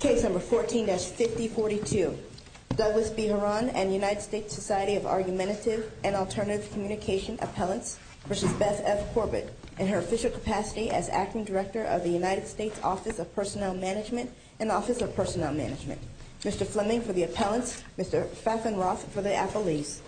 Case No. 14-5042 Douglas B. Huron and United States Society of Argumentative and Alternative Communication Appellants v. Beth F. Corbett in her official capacity as Acting Director of the United States Office of Personnel Management and Office of Personnel Management Mr. Fleming for the appellants, Mr. Fafenroth for the appellees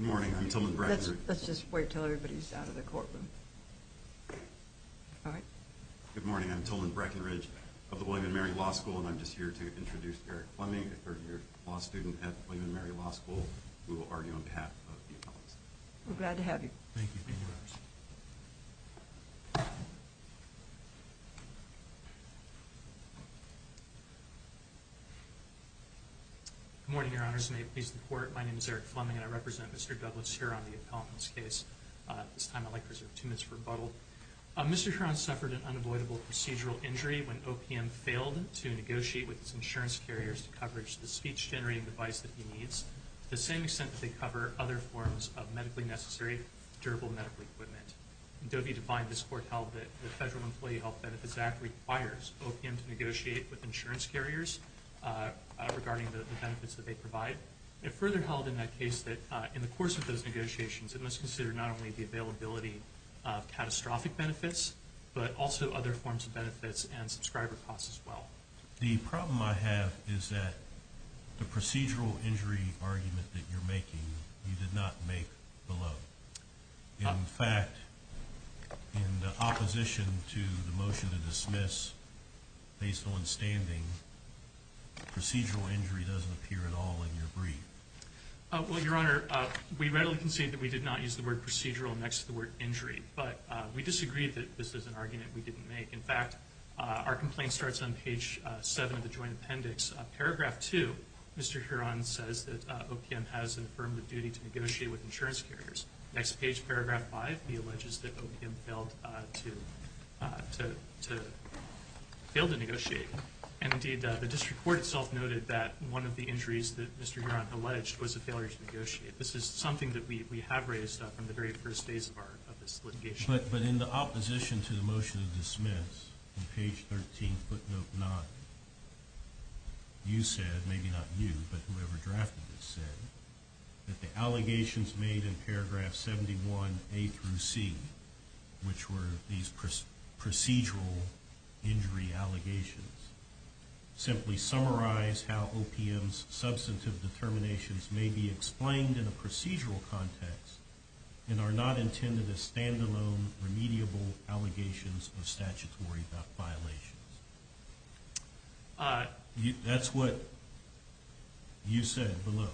Good morning, I'm Tillman Breckenridge. Let's just wait until everybody is out of the courtroom. Good morning, I'm Tillman Breckenridge of the William & Mary Law School and I'm just here to introduce Eric Fleming, a third-year law student at William & Mary Law School. We will argue on behalf of the appellants. We're glad to have you. Thank you. Good morning, Your Honors. May it please the Court, my name is Eric Fleming and I represent Mr. Douglas Huron, the appellant in this case. At this time, I'd like to reserve two minutes for rebuttal. Mr. Huron suffered an unavoidable procedural injury when OPM failed to negotiate with his insurance carriers to coverage the speech-generating device that he needs to the same extent that they cover other forms of medically necessary durable medical equipment. In Doe v. Define, this Court held that the Federal Employee Health Benefits Act requires OPM to negotiate with insurance carriers regarding the benefits that they provide. It further held in that case that in the course of those negotiations, it must consider not only the availability of catastrophic benefits, but also other forms of benefits and subscriber costs as well. The problem I have is that the procedural injury argument that you're making, you did not make below. In fact, in opposition to the motion to dismiss, based on standing, procedural injury doesn't appear at all in your brief. Well, Your Honor, we readily concede that we did not use the word procedural next to the word injury. But we disagree that this is an argument we didn't make. In fact, our complaint starts on page 7 of the Joint Appendix. Paragraph 2, Mr. Huron says that OPM has an affirmative duty to negotiate with insurance carriers. Next page, paragraph 5, he alleges that OPM failed to negotiate. Indeed, the district court itself noted that one of the injuries that Mr. Huron alleged was a failure to negotiate. This is something that we have raised from the very first days of this litigation. But in the opposition to the motion to dismiss, on page 13, footnote 9, you said, maybe not you, but whoever drafted this said, that the allegations made in paragraph 71A through C, which were these procedural injury allegations, simply summarize how OPM's substantive determinations may be explained in a procedural context and are not intended as stand-alone, remediable allegations of statutory violations. That's what you said below,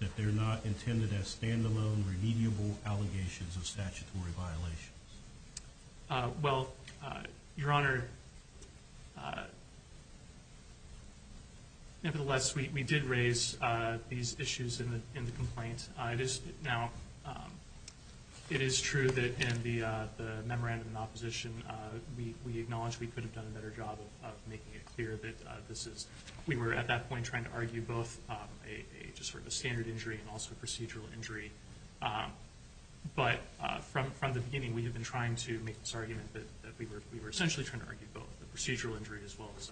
that they're not intended as stand-alone, remediable allegations of statutory violations. Well, Your Honor, nevertheless, we did raise these issues in the complaint. It is true that in the memorandum in opposition, we acknowledge we could have done a better job of making it clear that this is, we were at that point trying to argue both a standard injury and also a procedural injury. But from the beginning, we have been trying to make this argument that we were essentially trying to argue both the procedural injury as well as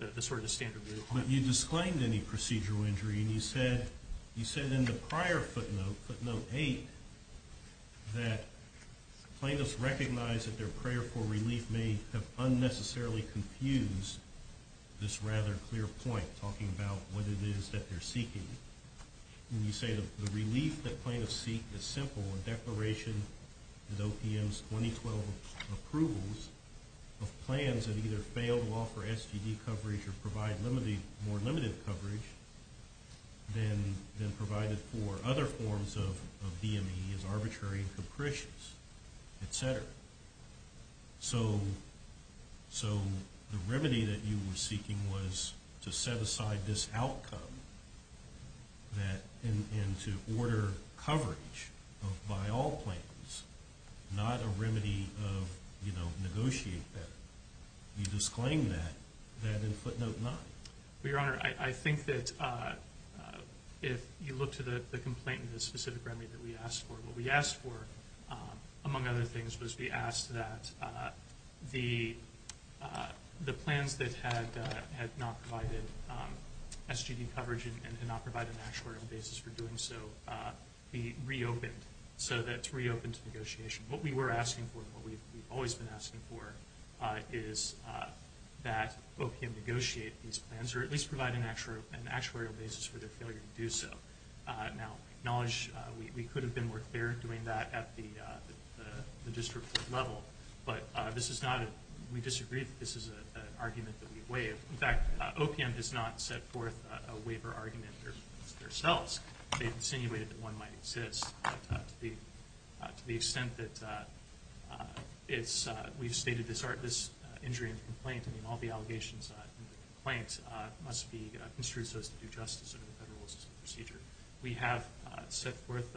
the sort of standard. But you disclaimed any procedural injury, and you said in the prior footnote, footnote 8, that plaintiffs recognize that their prayer for relief may have unnecessarily confused this rather clear point, talking about what it is that they're seeking. When you say the relief that plaintiffs seek is simple, a declaration that OPM's 2012 approvals of plans that either fail to offer SGD coverage or provide more limited coverage than provided for other forms of DME is arbitrary and capricious, et cetera. So the remedy that you were seeking was to set aside this outcome and to order coverage by all plaintiffs, not a remedy of negotiate better. You disclaimed that in footnote 9. Well, Your Honor, I think that if you look to the complaint and the specific remedy that we asked for, among other things was we asked that the plans that had not provided SGD coverage and did not provide an actuarial basis for doing so be reopened so that it's reopened to negotiation. What we were asking for and what we've always been asking for is that OPM negotiate these plans or at least provide an actuarial basis for their failure to do so. Now, acknowledge we could have been more clear doing that at the district level, but we disagree that this is an argument that we waive. In fact, OPM has not set forth a waiver argument themselves. They've insinuated that one might exist to the extent that we've stated this injury in the complaint and all the allegations in the complaint must be construed as to do justice under the federal procedure. We have set forth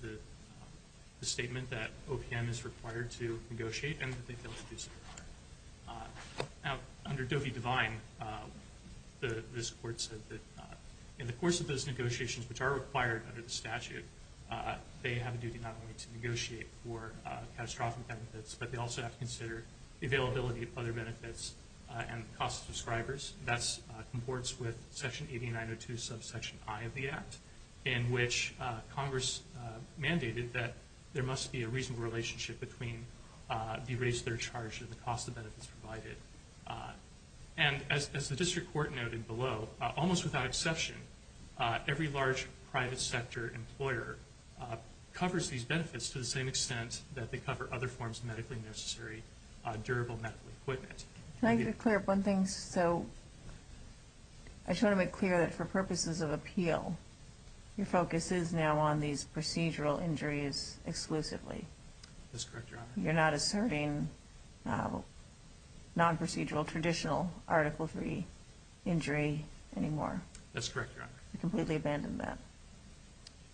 the statement that OPM is required to negotiate and that they fail to do so. Now, under Doe v. Devine, this Court said that in the course of those negotiations, which are required under the statute, they have a duty not only to negotiate for catastrophic benefits, but they also have to consider the availability of other benefits and the cost to subscribers. That comports with Section 8902 subsection I of the Act, in which Congress mandated that there must be a reasonable relationship between the rates that are charged and the cost of benefits provided. And as the district court noted below, almost without exception, every large private sector employer covers these benefits to the same extent that they cover other forms of medically necessary durable medical equipment. Can I get clear of one thing? So, I just want to make clear that for purposes of appeal, your focus is now on these procedural injuries exclusively. That's correct, Your Honor. You're not asserting non-procedural traditional article III injury anymore. That's correct, Your Honor. You've completely abandoned that.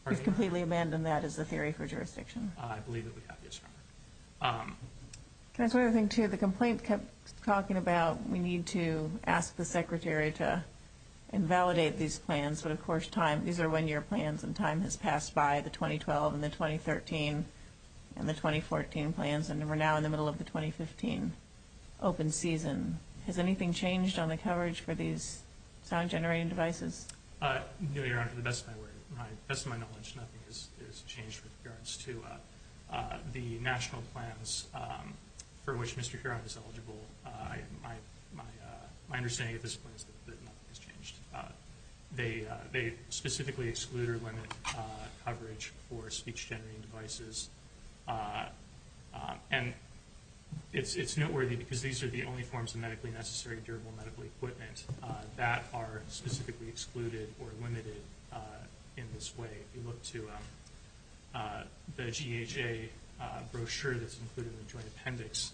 Pardon me? You've completely abandoned that as a theory for jurisdiction. I believe that we have, yes, Your Honor. Can I say one other thing, too? The complaint kept talking about we need to ask the Secretary to invalidate these plans. But, of course, these are one-year plans, and time has passed by. The 2012 and the 2013 and the 2014 plans, and we're now in the middle of the 2015 open season. Has anything changed on the coverage for these sound-generating devices? No, Your Honor. To the best of my knowledge, nothing has changed with regards to the national plans for which Mr. Curon is eligible. My understanding at this point is that nothing has changed. They specifically excluded women coverage for speech-generating devices. And it's noteworthy because these are the only forms of medically necessary durable medical equipment that are specifically excluded or limited in this way. If you look to the GHA brochure that's included in the joint appendix,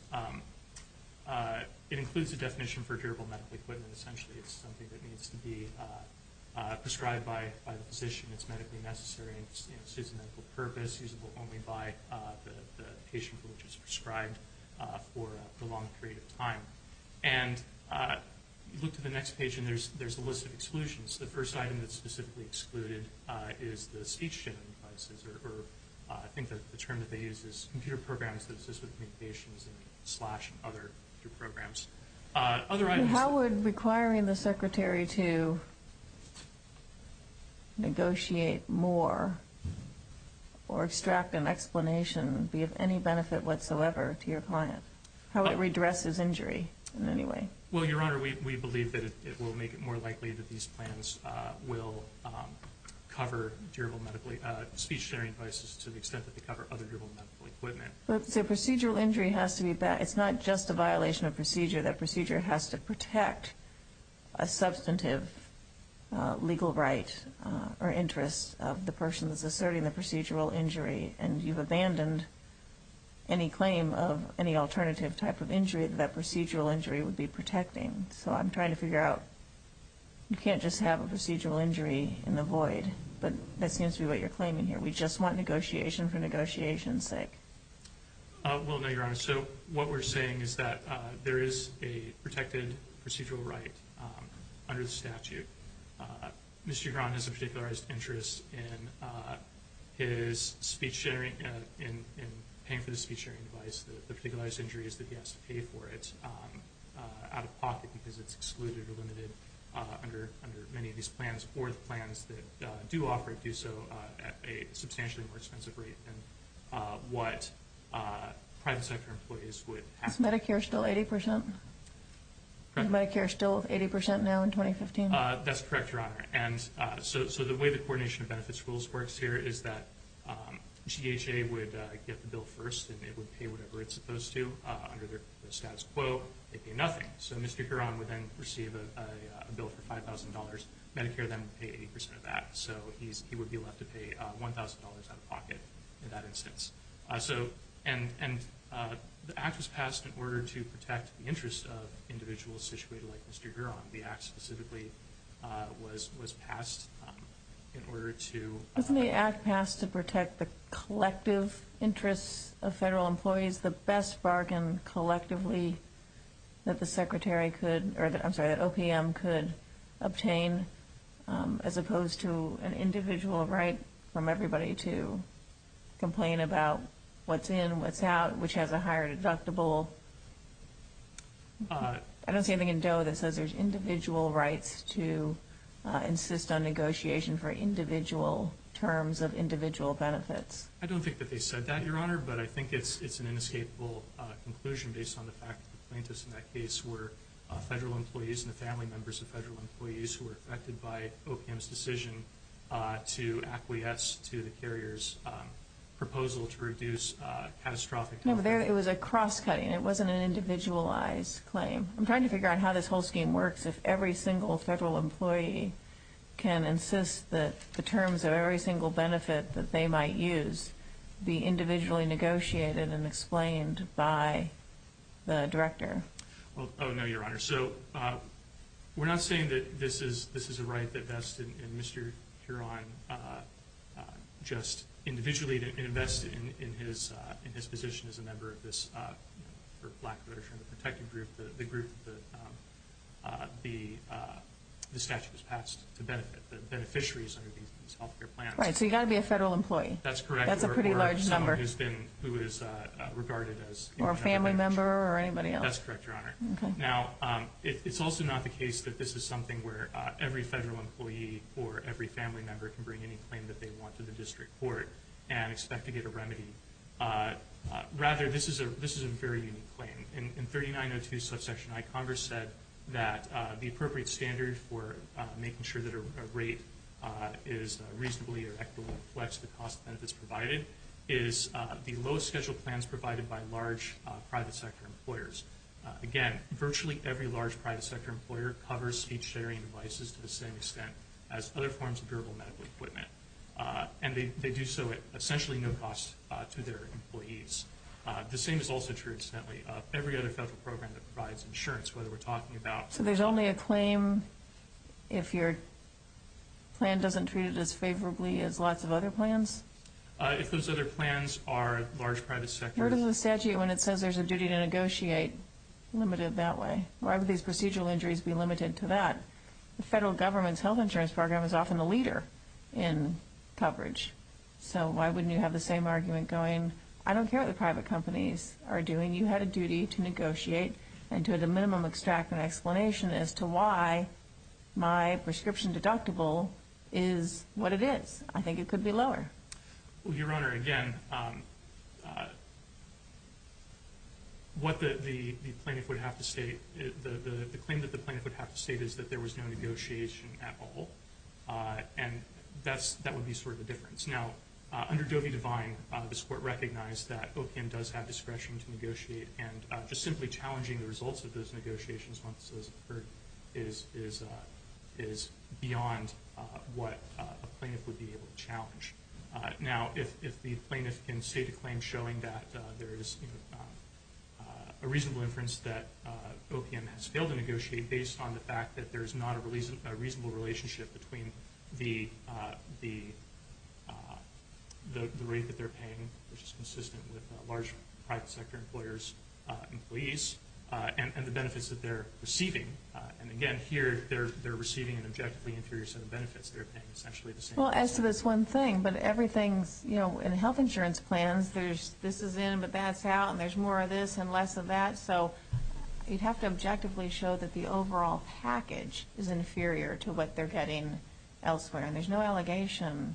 it includes a definition for durable medical equipment. Essentially, it's something that needs to be prescribed by the physician. It's medically necessary and serves a medical purpose. It's usable only by the patient for which it's prescribed for a long period of time. And if you look to the next page, there's a list of exclusions. The first item that's specifically excluded is the speech-generating devices, or I think the term that they use is computer programs that assist with communications and other programs. How would requiring the secretary to negotiate more or extract an explanation be of any benefit whatsoever to your client? How would it redress his injury in any way? Well, Your Honor, we believe that it will make it more likely that these plans will cover speech-generating devices to the extent that they cover other durable medical equipment. So procedural injury has to be bad. It's not just a violation of procedure. That procedure has to protect a substantive legal right or interest of the person that's asserting the procedural injury. And you've abandoned any claim of any alternative type of injury that that procedural injury would be protecting. So I'm trying to figure out, you can't just have a procedural injury in the void. But that seems to be what you're claiming here. We just want negotiation for negotiation's sake. Well, no, Your Honor. So what we're saying is that there is a protected procedural right under the statute. Mr. Giron has a particularized interest in his speech-sharing, in paying for the speech-sharing device, the particularized injuries that he has to pay for. It's out of pocket because it's excluded or limited under many of these plans, or the plans that do offer it do so at a substantially more expensive rate than what private sector employees would have to pay. Is Medicare still 80%? Correct. Is Medicare still 80% now in 2015? That's correct, Your Honor. And so the way the Coordination of Benefits Rules works here is that GHA would get the bill first, and it would pay whatever it's supposed to under their status quo. They pay nothing. So Mr. Giron would then receive a bill for $5,000. Medicare then would pay 80% of that. So he would be left to pay $1,000 out of pocket in that instance. And the act was passed in order to protect the interests of individuals situated like Mr. Giron. The act specifically was passed in order to – Wasn't the act passed to protect the collective interests of federal employees, the best bargain collectively that the Secretary could – or I'm sorry, that OPM could obtain, as opposed to an individual right from everybody to complain about what's in, what's out, which has a higher deductible? I don't see anything in DOE that says there's individual rights to insist on negotiation for individual terms of individual benefits. I don't think that they said that, Your Honor, but I think it's an inescapable conclusion based on the fact that the plaintiffs in that case were federal employees and the family members of federal employees who were affected by OPM's decision to acquiesce to the carrier's proposal to reduce catastrophic – It was a cross-cutting. It wasn't an individualized claim. I'm trying to figure out how this whole scheme works. if every single federal employee can insist that the terms of every single benefit that they might use be individually negotiated and explained by the director. Oh, no, Your Honor. So we're not saying that this is a right that Vest and Mr. Giron just individually invest in his position as a member of this – for lack of a better term, the protective group, the group that the statute was passed to benefit, the beneficiaries under these health care plans. Right, so you've got to be a federal employee. That's correct. That's a pretty large number. Or someone who is regarded as – Or a family member or anybody else. That's correct, Your Honor. Okay. Now, it's also not the case that this is something where every federal employee or every family member can bring any claim that they want to the district court and expect to get a remedy. Rather, this is a very unique claim. In 3902 subsection I, Congress said that the appropriate standard for making sure that a rate is reasonably or equitably flexed to the cost of benefits provided is the lowest scheduled plans provided by large private sector employers. Again, virtually every large private sector employer covers speech-sharing devices to the same extent as other forms of to their employees. The same is also true, incidentally, of every other federal program that provides insurance, whether we're talking about So there's only a claim if your plan doesn't treat it as favorably as lots of other plans? If those other plans are large private sector Where does the statute, when it says there's a duty to negotiate, limit it that way? Why would these procedural injuries be limited to that? The federal government's health insurance program is often the leader in coverage. So why wouldn't you have the same argument going, I don't care what the private companies are doing, you had a duty to negotiate and to at a minimum extract an explanation as to why my prescription deductible is what it is. I think it could be lower. Your Honor, again, what the plaintiff would have to state, the claim that the plaintiff would have to state is that there was no negotiation at all. And that would be sort of the difference. Now, under Dovey-Devine, this Court recognized that OPM does have discretion to negotiate and just simply challenging the results of those negotiations once those occur is beyond what a plaintiff would be able to challenge. Now, if the plaintiff can state a claim showing that there is a reasonable inference that OPM has failed to negotiate based on the fact that there is not a reasonable relationship between the rate that they're paying, which is consistent with large private sector employers' employees, and the benefits that they're receiving. And again, here, they're receiving an objectively inferior set of benefits. They're paying essentially the same. Well, as to this one thing, but everything's, you know, in health insurance plans, there's this is in, but that's out, and there's more of this and less of that. So you'd have to objectively show that the overall package is inferior to what they're getting elsewhere. And there's no allegation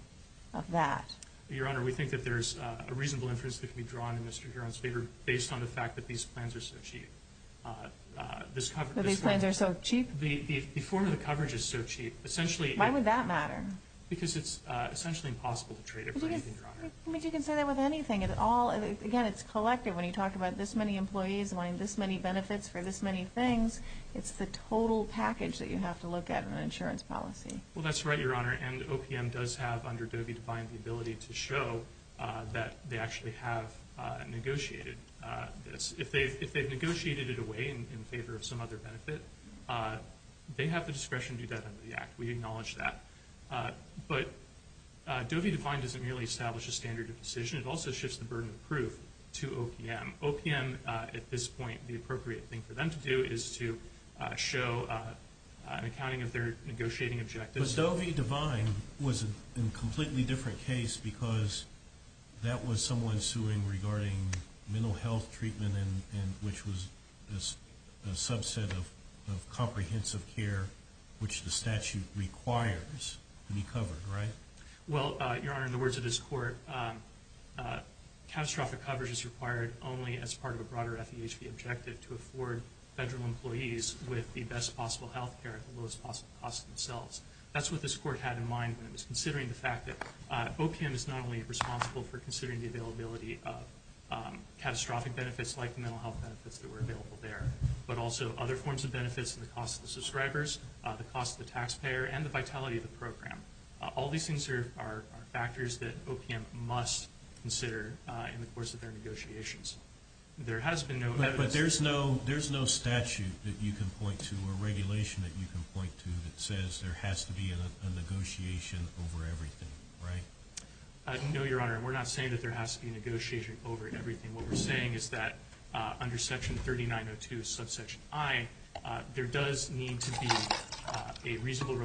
of that. Your Honor, we think that there's a reasonable inference that can be drawn in Mr. Huron's favor based on the fact that these plans are so cheap. These plans are so cheap? The form of the coverage is so cheap. Why would that matter? Because it's essentially impossible to trade it for anything, Your Honor. But you can say that with anything. Again, it's collective. When you talk about this many employees wanting this many benefits for this many things, it's the total package that you have to look at in an insurance policy. Well, that's right, Your Honor. And OPM does have, under Doe v. Define, the ability to show that they actually have negotiated this. If they've negotiated it away in favor of some other benefit, they have the discretion to do that under the Act. We acknowledge that. But Doe v. Define doesn't merely establish a standard of decision. It also shifts the burden of proof to OPM. OPM, at this point, the appropriate thing for them to do is to show an accounting of their negotiating objectives. But Doe v. Define was a completely different case because that was someone suing regarding mental health treatment, which was a subset of comprehensive care which the statute requires to be covered, right? Well, Your Honor, in the words of this Court, catastrophic coverage is required only as part of a broader FEHB objective to afford federal employees with the best possible health care at the lowest possible cost themselves. That's what this Court had in mind when it was considering the fact that OPM is not only responsible for considering the availability of catastrophic benefits like the mental health benefits that were available there, but also other forms of benefits in the cost of the subscribers, the cost of the taxpayer, and the vitality of the program. All these things are factors that OPM must consider in the course of their negotiations. But there's no statute that you can point to or regulation that you can point to that says there has to be a negotiation over everything, right? No, Your Honor. We're not saying that there has to be a negotiation over everything. What we're saying is that under Section 3902, subsection I, there does need to be a reasonable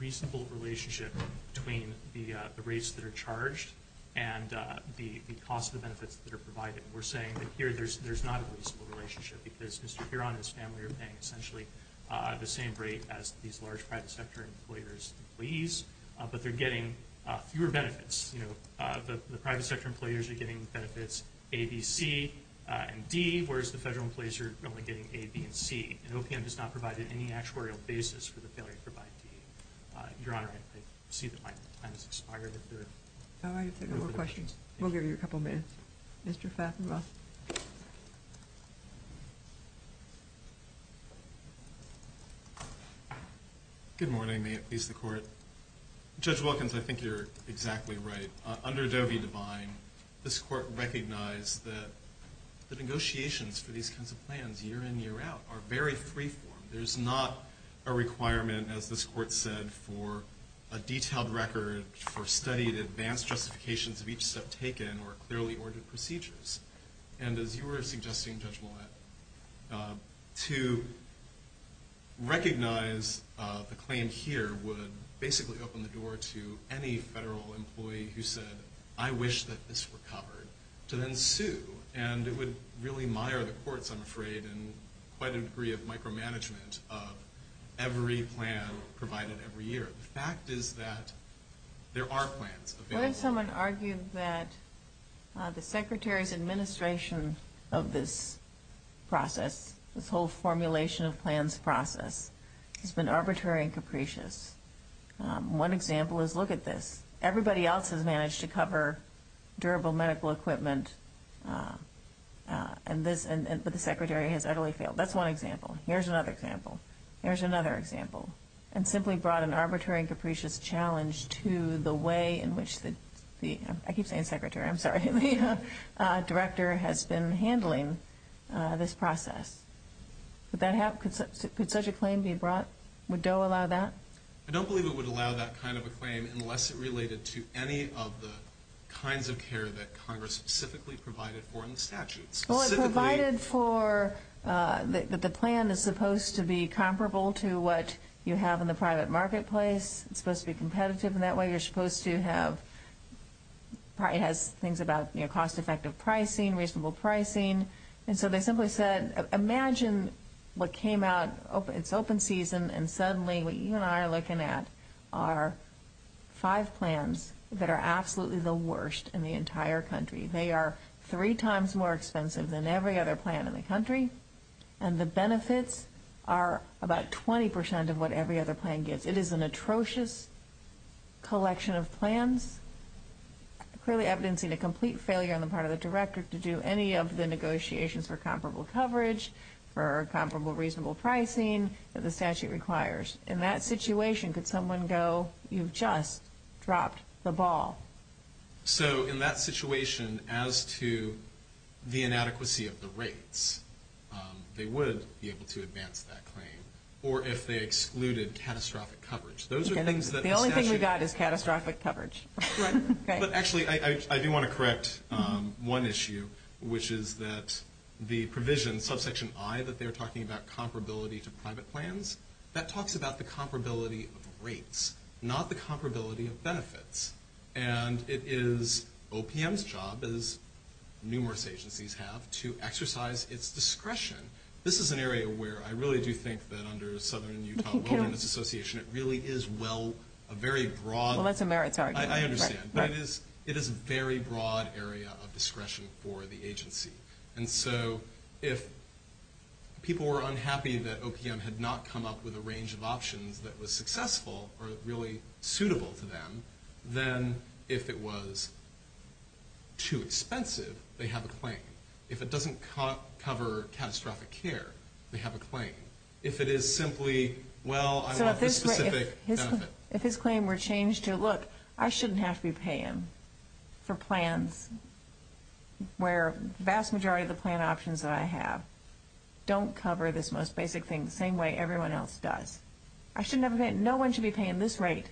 relationship between the rates that are charged and the cost of the benefits that are provided. We're saying that here there's not a reasonable relationship because Mr. Huron and his family are paying essentially the same rate as these large private sector employers' employees, but they're getting fewer benefits. The private sector employers are getting benefits A, B, C, and D, whereas the federal employees are only getting A, B, and C. And OPM does not provide any actuarial basis for the failure to provide D. Your Honor, I see that my time has expired. All right. If there are no more questions, we'll give you a couple minutes. Mr. Faffenroth. Good morning. May it please the Court. Judge Wilkins, I think you're exactly right. Under Doe v. Devine, this Court recognized that the negotiations for these kinds of plans year in, year out are very free-form. There's not a requirement, as this Court said, for a detailed record for study of the advanced justifications of each step taken or clearly ordered procedures. And as you were suggesting, Judge Millett, to recognize the claim here would basically open the door to any federal employee who said, I wish that this were covered, to then sue. And it would really mire the courts, I'm afraid, in quite a degree of micromanagement of every plan provided every year. The fact is that there are plans available. What if someone argued that the Secretary's administration of this process, this whole formulation of plans process, has been arbitrary and capricious? One example is, look at this. Everybody else has managed to cover durable medical equipment, but the Secretary has utterly failed. That's one example. Here's another example. Here's another example. And simply brought an arbitrary and capricious challenge to the way in which the Director has been handling this process. Could such a claim be brought? Would Doe allow that? I don't believe it would allow that kind of a claim unless it related to any of the kinds of care that Congress specifically provided for in the statutes. Well, it provided for that the plan is supposed to be comparable to what you have in the private marketplace. It's supposed to be competitive in that way. You're supposed to have things about cost-effective pricing, reasonable pricing. And so they simply said, imagine what came out. It's open season, and suddenly what you and I are looking at are five plans that are absolutely the worst in the entire country. They are three times more expensive than every other plan in the country, and the benefits are about 20 percent of what every other plan gets. It is an atrocious collection of plans, clearly evidencing a complete failure on the part of the Director to do any of the negotiations for comparable coverage, for comparable reasonable pricing that the statute requires. In that situation, could someone go, you've just dropped the ball? So in that situation, as to the inadequacy of the rates, they would be able to advance that claim, or if they excluded catastrophic coverage. The only thing we got is catastrophic coverage. But actually, I do want to correct one issue, which is that the provision, subsection I, that they're talking about comparability to private plans, that talks about the comparability of rates, not the comparability of benefits. And it is OPM's job, as numerous agencies have, to exercise its discretion. This is an area where I really do think that under Southern Utah Wellness Association, it really is well, a very broad... Well, that's a merits argument. I understand. But it is a very broad area of discretion for the agency. And so if people were unhappy that OPM had not come up with a range of options that was successful or really suitable to them, then if it was too expensive, they have a claim. If it doesn't cover catastrophic care, they have a claim. If it is simply, well, I want this specific benefit. If his claim were changed to, look, I shouldn't have to be paying for plans where the vast majority of the plan options that I have don't cover this most basic thing the same way everyone else does. No one should be paying this rate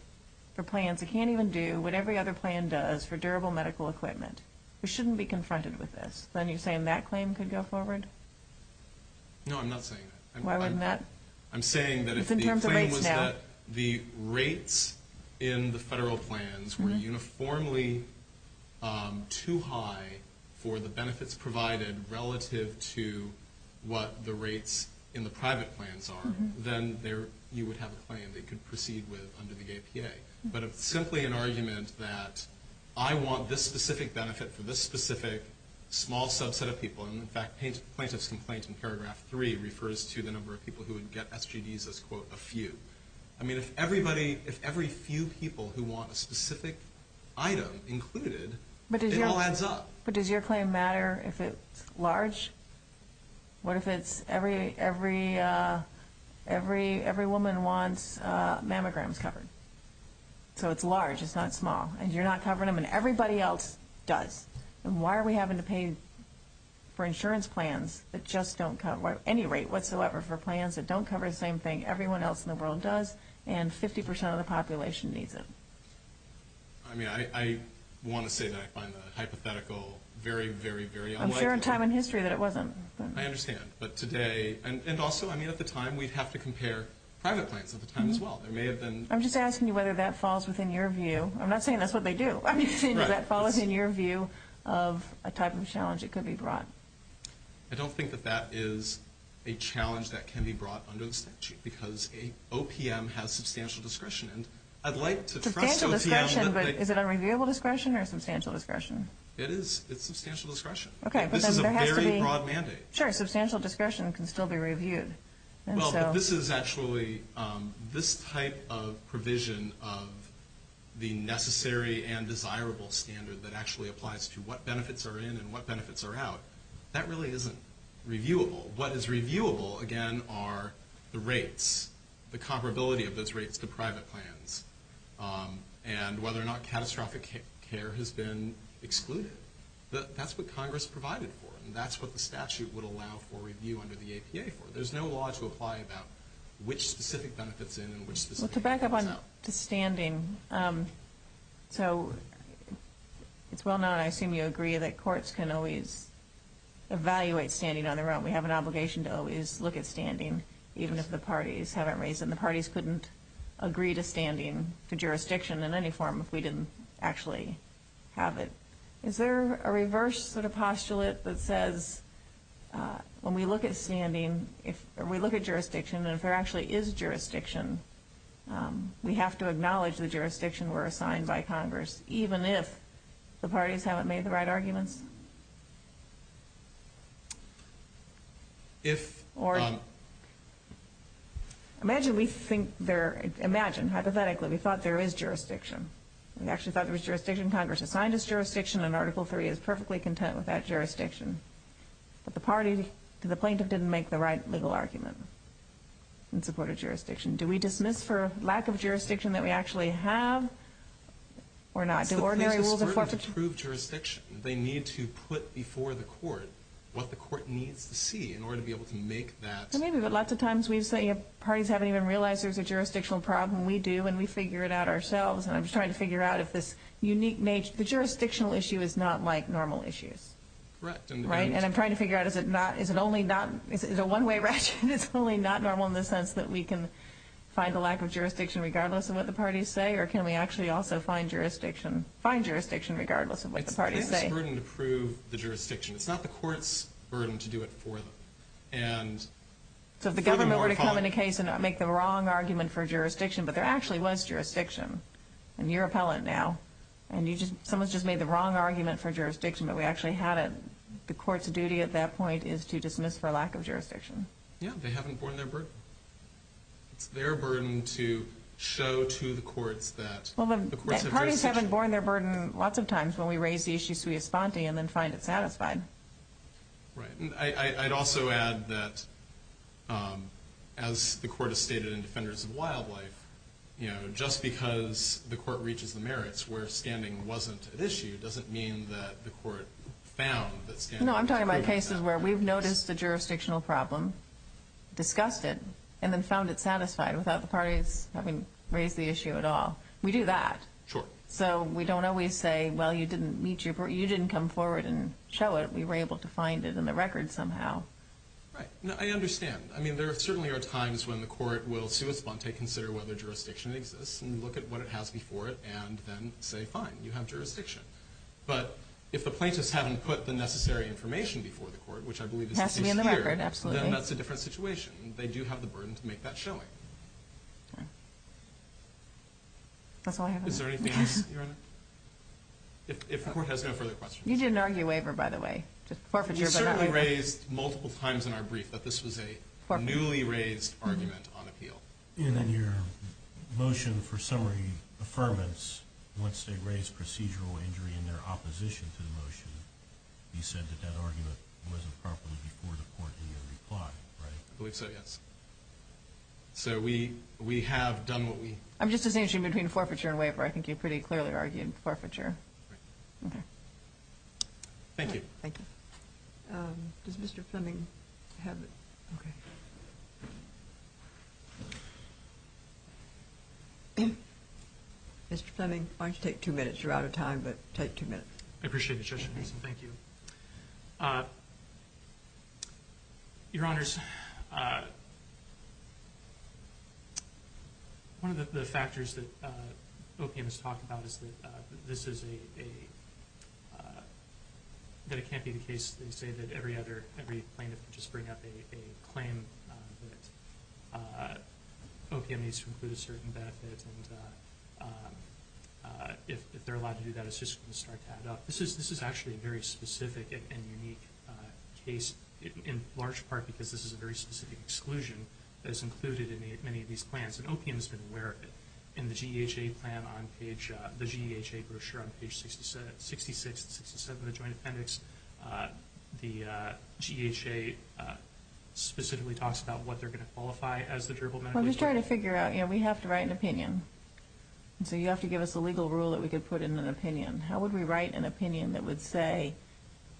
for plans that can't even do what every other plan does for durable medical equipment. We shouldn't be confronted with this. Then you're saying that claim could go forward? No, I'm not saying that. Why wouldn't that? I'm saying that if the claim was that the rates in the federal plans were uniformly too high for the benefits provided relative to what the rates in the private plans are, then you would have a claim they could proceed with under the APA. But it's simply an argument that I want this specific benefit for this specific small subset of people. In fact, plaintiff's complaint in paragraph 3 refers to the number of people who would get SGDs as, quote, a few. I mean, if every few people who want a specific item included, it all adds up. But does your claim matter if it's large? What if every woman wants mammograms covered? So it's large, it's not small, and you're not covering them, and everybody else does. Then why are we having to pay for insurance plans that just don't cover any rate whatsoever for plans that don't cover the same thing everyone else in the world does and 50% of the population needs it? I mean, I want to say that I find that hypothetical very, very, very unlikely. I'm sure in time and history that it wasn't. I understand, but today, and also, I mean, at the time, we'd have to compare private plans at the time as well. There may have been— I'm just asking you whether that falls within your view. I'm not saying that's what they do. I'm just saying does that fall within your view of a type of challenge that could be brought? I don't think that that is a challenge that can be brought under the statute because an OPM has substantial discretion. I'd like to— Substantial discretion, but is it unreviewable discretion or substantial discretion? It's substantial discretion. This is a very broad mandate. Sure, substantial discretion can still be reviewed. Well, this is actually—this type of provision of the necessary and desirable standard that actually applies to what benefits are in and what benefits are out, that really isn't reviewable. What is reviewable, again, are the rates, the comparability of those rates to private plans, and whether or not catastrophic care has been excluded. That's what Congress provided for, and that's what the statute would allow for review under the APA for. There's no law to apply about which specific benefits in and which specific benefits out. Well, to back up to standing, so it's well known, I assume you agree, that courts can always evaluate standing on their own. We have an obligation to always look at standing, even if the parties haven't raised it, and the parties couldn't agree to standing for jurisdiction in any form if we didn't actually have it. Is there a reverse sort of postulate that says when we look at standing, or we look at jurisdiction, and if there actually is jurisdiction, we have to acknowledge the jurisdiction we're assigned by Congress, even if the parties haven't made the right arguments? If— Imagine we think there—imagine, hypothetically, we thought there is jurisdiction. We actually thought there was jurisdiction. Congress assigned us jurisdiction, and Article III is perfectly content with that jurisdiction. But the party to the plaintiff didn't make the right legal argument in support of jurisdiction. Do we dismiss for lack of jurisdiction that we actually have, or not? Do ordinary rules of forfeiture— That's the place that's important to prove jurisdiction. They need to put before the court what the court needs to see in order to be able to make that— Maybe, but lots of times we've seen parties haven't even realized there's a jurisdictional problem. We do, and we figure it out ourselves. And I'm trying to figure out if this unique—the jurisdictional issue is not like normal issues. Correct. And I'm trying to figure out, is it only not—is it a one-way ratchet? It's only not normal in the sense that we can find the lack of jurisdiction regardless of what the parties say? Or can we actually also find jurisdiction regardless of what the parties say? It's the plaintiff's burden to prove the jurisdiction. It's not the court's burden to do it for them. So if the government were to come in a case and make the wrong argument for jurisdiction, but there actually was jurisdiction, and you're appellant now, and someone's just made the wrong argument for jurisdiction, but we actually had it, the court's duty at that point is to dismiss for lack of jurisdiction. Yeah, they haven't borne their burden. It's their burden to show to the courts that the courts have jurisdiction. Parties haven't borne their burden lots of times when we raise the issue sui esponte and then find it satisfied. Right. And I'd also add that, as the court has stated in Defenders of Wildlife, just because the court reaches the merits where standing wasn't at issue doesn't mean that the court found that standing wasn't at issue. No, I'm talking about cases where we've noticed a jurisdictional problem, discussed it, and then found it satisfied without the parties having raised the issue at all. We do that. Sure. So we don't always say, well, you didn't come forward and show it. We were able to find it in the record somehow. Right. I understand. I mean, there certainly are times when the court will sui esponte, consider whether jurisdiction exists, and look at what it has before it, and then say, fine, you have jurisdiction. But if the plaintiffs haven't put the necessary information before the court, which I believe is the case here, then that's a different situation. They do have the burden to make that showing. That's all I have. Is there anything else, Your Honor? If the court has no further questions. You didn't argue a waiver, by the way. You certainly raised multiple times in our brief that this was a newly raised argument on appeal. And then your motion for summary affirmance, once they raised procedural injury in their opposition to the motion, you said that that argument wasn't properly before the court had even replied, right? I believe so, yes. So we have done what we... I'm just disengaging between forfeiture and waiver. I think you pretty clearly argued forfeiture. Right. Okay. Thank you. Thank you. Does Mr. Fleming have it? Okay. Mr. Fleming, why don't you take two minutes? You're out of time, but take two minutes. I appreciate it, Judge Mason. Thank you. Your Honors, one of the factors that OPM has talked about is that this is a... that it can't be the case, they say, that every other... every plaintiff can just bring up a claim that OPM needs to include a certain benefit. And if they're allowed to do that, it's just going to start to add up. This is actually a very specific and unique case, in large part because this is a very specific exclusion that is included in many of these plans. And OPM has been aware of it. In the GEHA plan on page... the GEHA brochure on page 66 and 67 of the Joint Appendix, the GEHA specifically talks about what they're going to qualify as the durable medical... We're just trying to figure out, you know, we have to write an opinion. So you have to give us a legal rule that we could put in an opinion. How would we write an opinion that would say,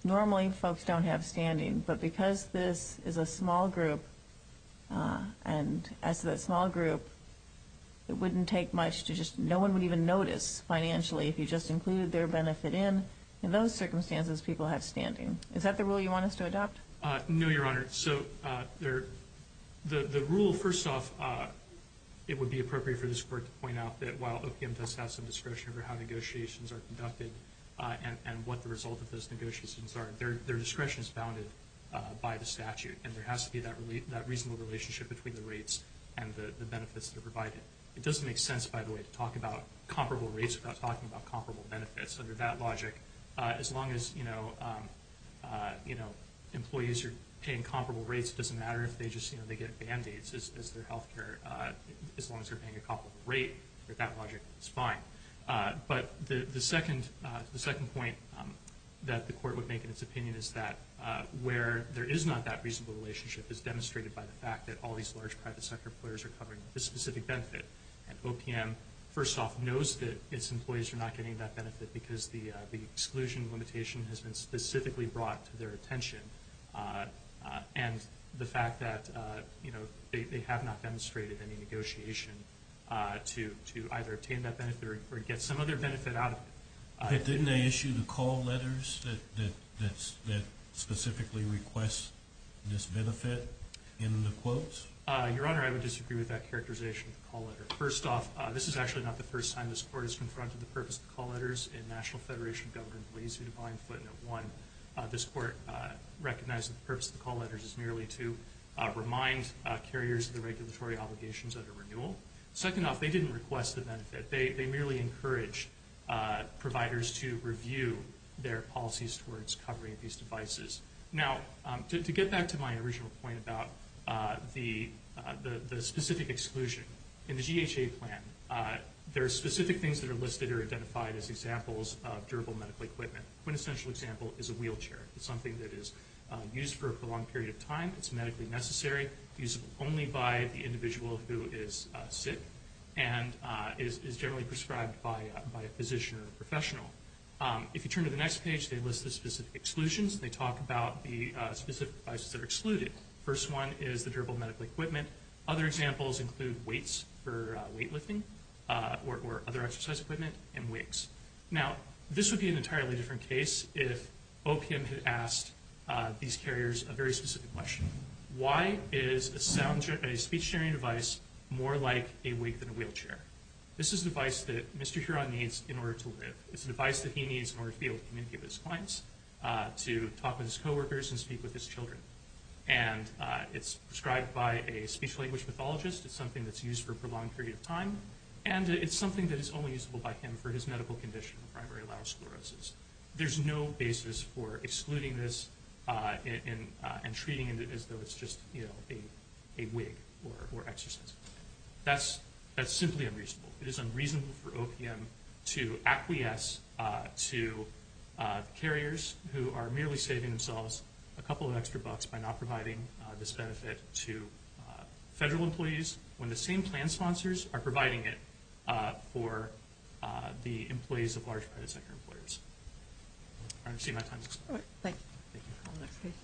normally folks don't have standing... but because this is a small group, and as a small group, it wouldn't take much to just... no one would even notice financially if you just included their benefit in. In those circumstances, people have standing. Is that the rule you want us to adopt? No, Your Honor. So the rule, first off, it would be appropriate for this Court to point out that... and what the result of those negotiations are. Their discretion is bounded by the statute. And there has to be that reasonable relationship between the rates and the benefits that are provided. It doesn't make sense, by the way, to talk about comparable rates without talking about comparable benefits. Under that logic, as long as, you know, employees are paying comparable rates... it doesn't matter if they just, you know, they get Band-Aids as their health care. As long as they're paying a comparable rate, under that logic, it's fine. But, the second point that the Court would make in its opinion is that... where there is not that reasonable relationship is demonstrated by the fact that... all these large private sector players are covering a specific benefit. And, OPM, first off, knows that its employees are not getting that benefit... because the exclusion limitation has been specifically brought to their attention. And, the fact that, you know, they have not demonstrated any negotiation... to either obtain that benefit or get some other benefit out of it... But, didn't they issue the call letters that specifically request this benefit in the quotes? Your Honor, I would disagree with that characterization of the call letter. First off, this is actually not the first time this Court has confronted the purpose of the call letters... in National Federation of Government Policing Defined Footnote 1. This Court recognized that the purpose of the call letters is merely to remind carriers of the regulatory obligations under renewal. Second off, they didn't request the benefit. They merely encouraged providers to review their policies towards covering these devices. Now, to get back to my original point about the specific exclusion. In the GHA plan, there are specific things that are listed or identified as examples of durable medical equipment. One essential example is a wheelchair. It's something that is used for a prolonged period of time. It's medically necessary. It's used only by the individual who is sick and is generally prescribed by a physician or professional. If you turn to the next page, they list the specific exclusions. They talk about the specific devices that are excluded. The first one is the durable medical equipment. Other examples include weights for weight lifting or other exercise equipment and wigs. Now, this would be an entirely different case if OPM had asked these carriers a very specific question. Why is a speech-sharing device more like a wig than a wheelchair? This is a device that Mr. Huron needs in order to live. It's a device that he needs in order to be able to communicate with his clients, to talk with his coworkers and speak with his children. And it's prescribed by a speech-language pathologist. It's something that's used for a prolonged period of time. And it's something that is only usable by him for his medical condition, primary laryngosclerosis. There's no basis for excluding this and treating it as though it's just a wig or exercise. That's simply unreasonable. It is unreasonable for OPM to acquiesce to carriers who are merely saving themselves a couple of extra bucks by not providing this benefit to federal employees when the same plan sponsors are providing it for the employees of large private sector employers. I understand my time is up. Thank you.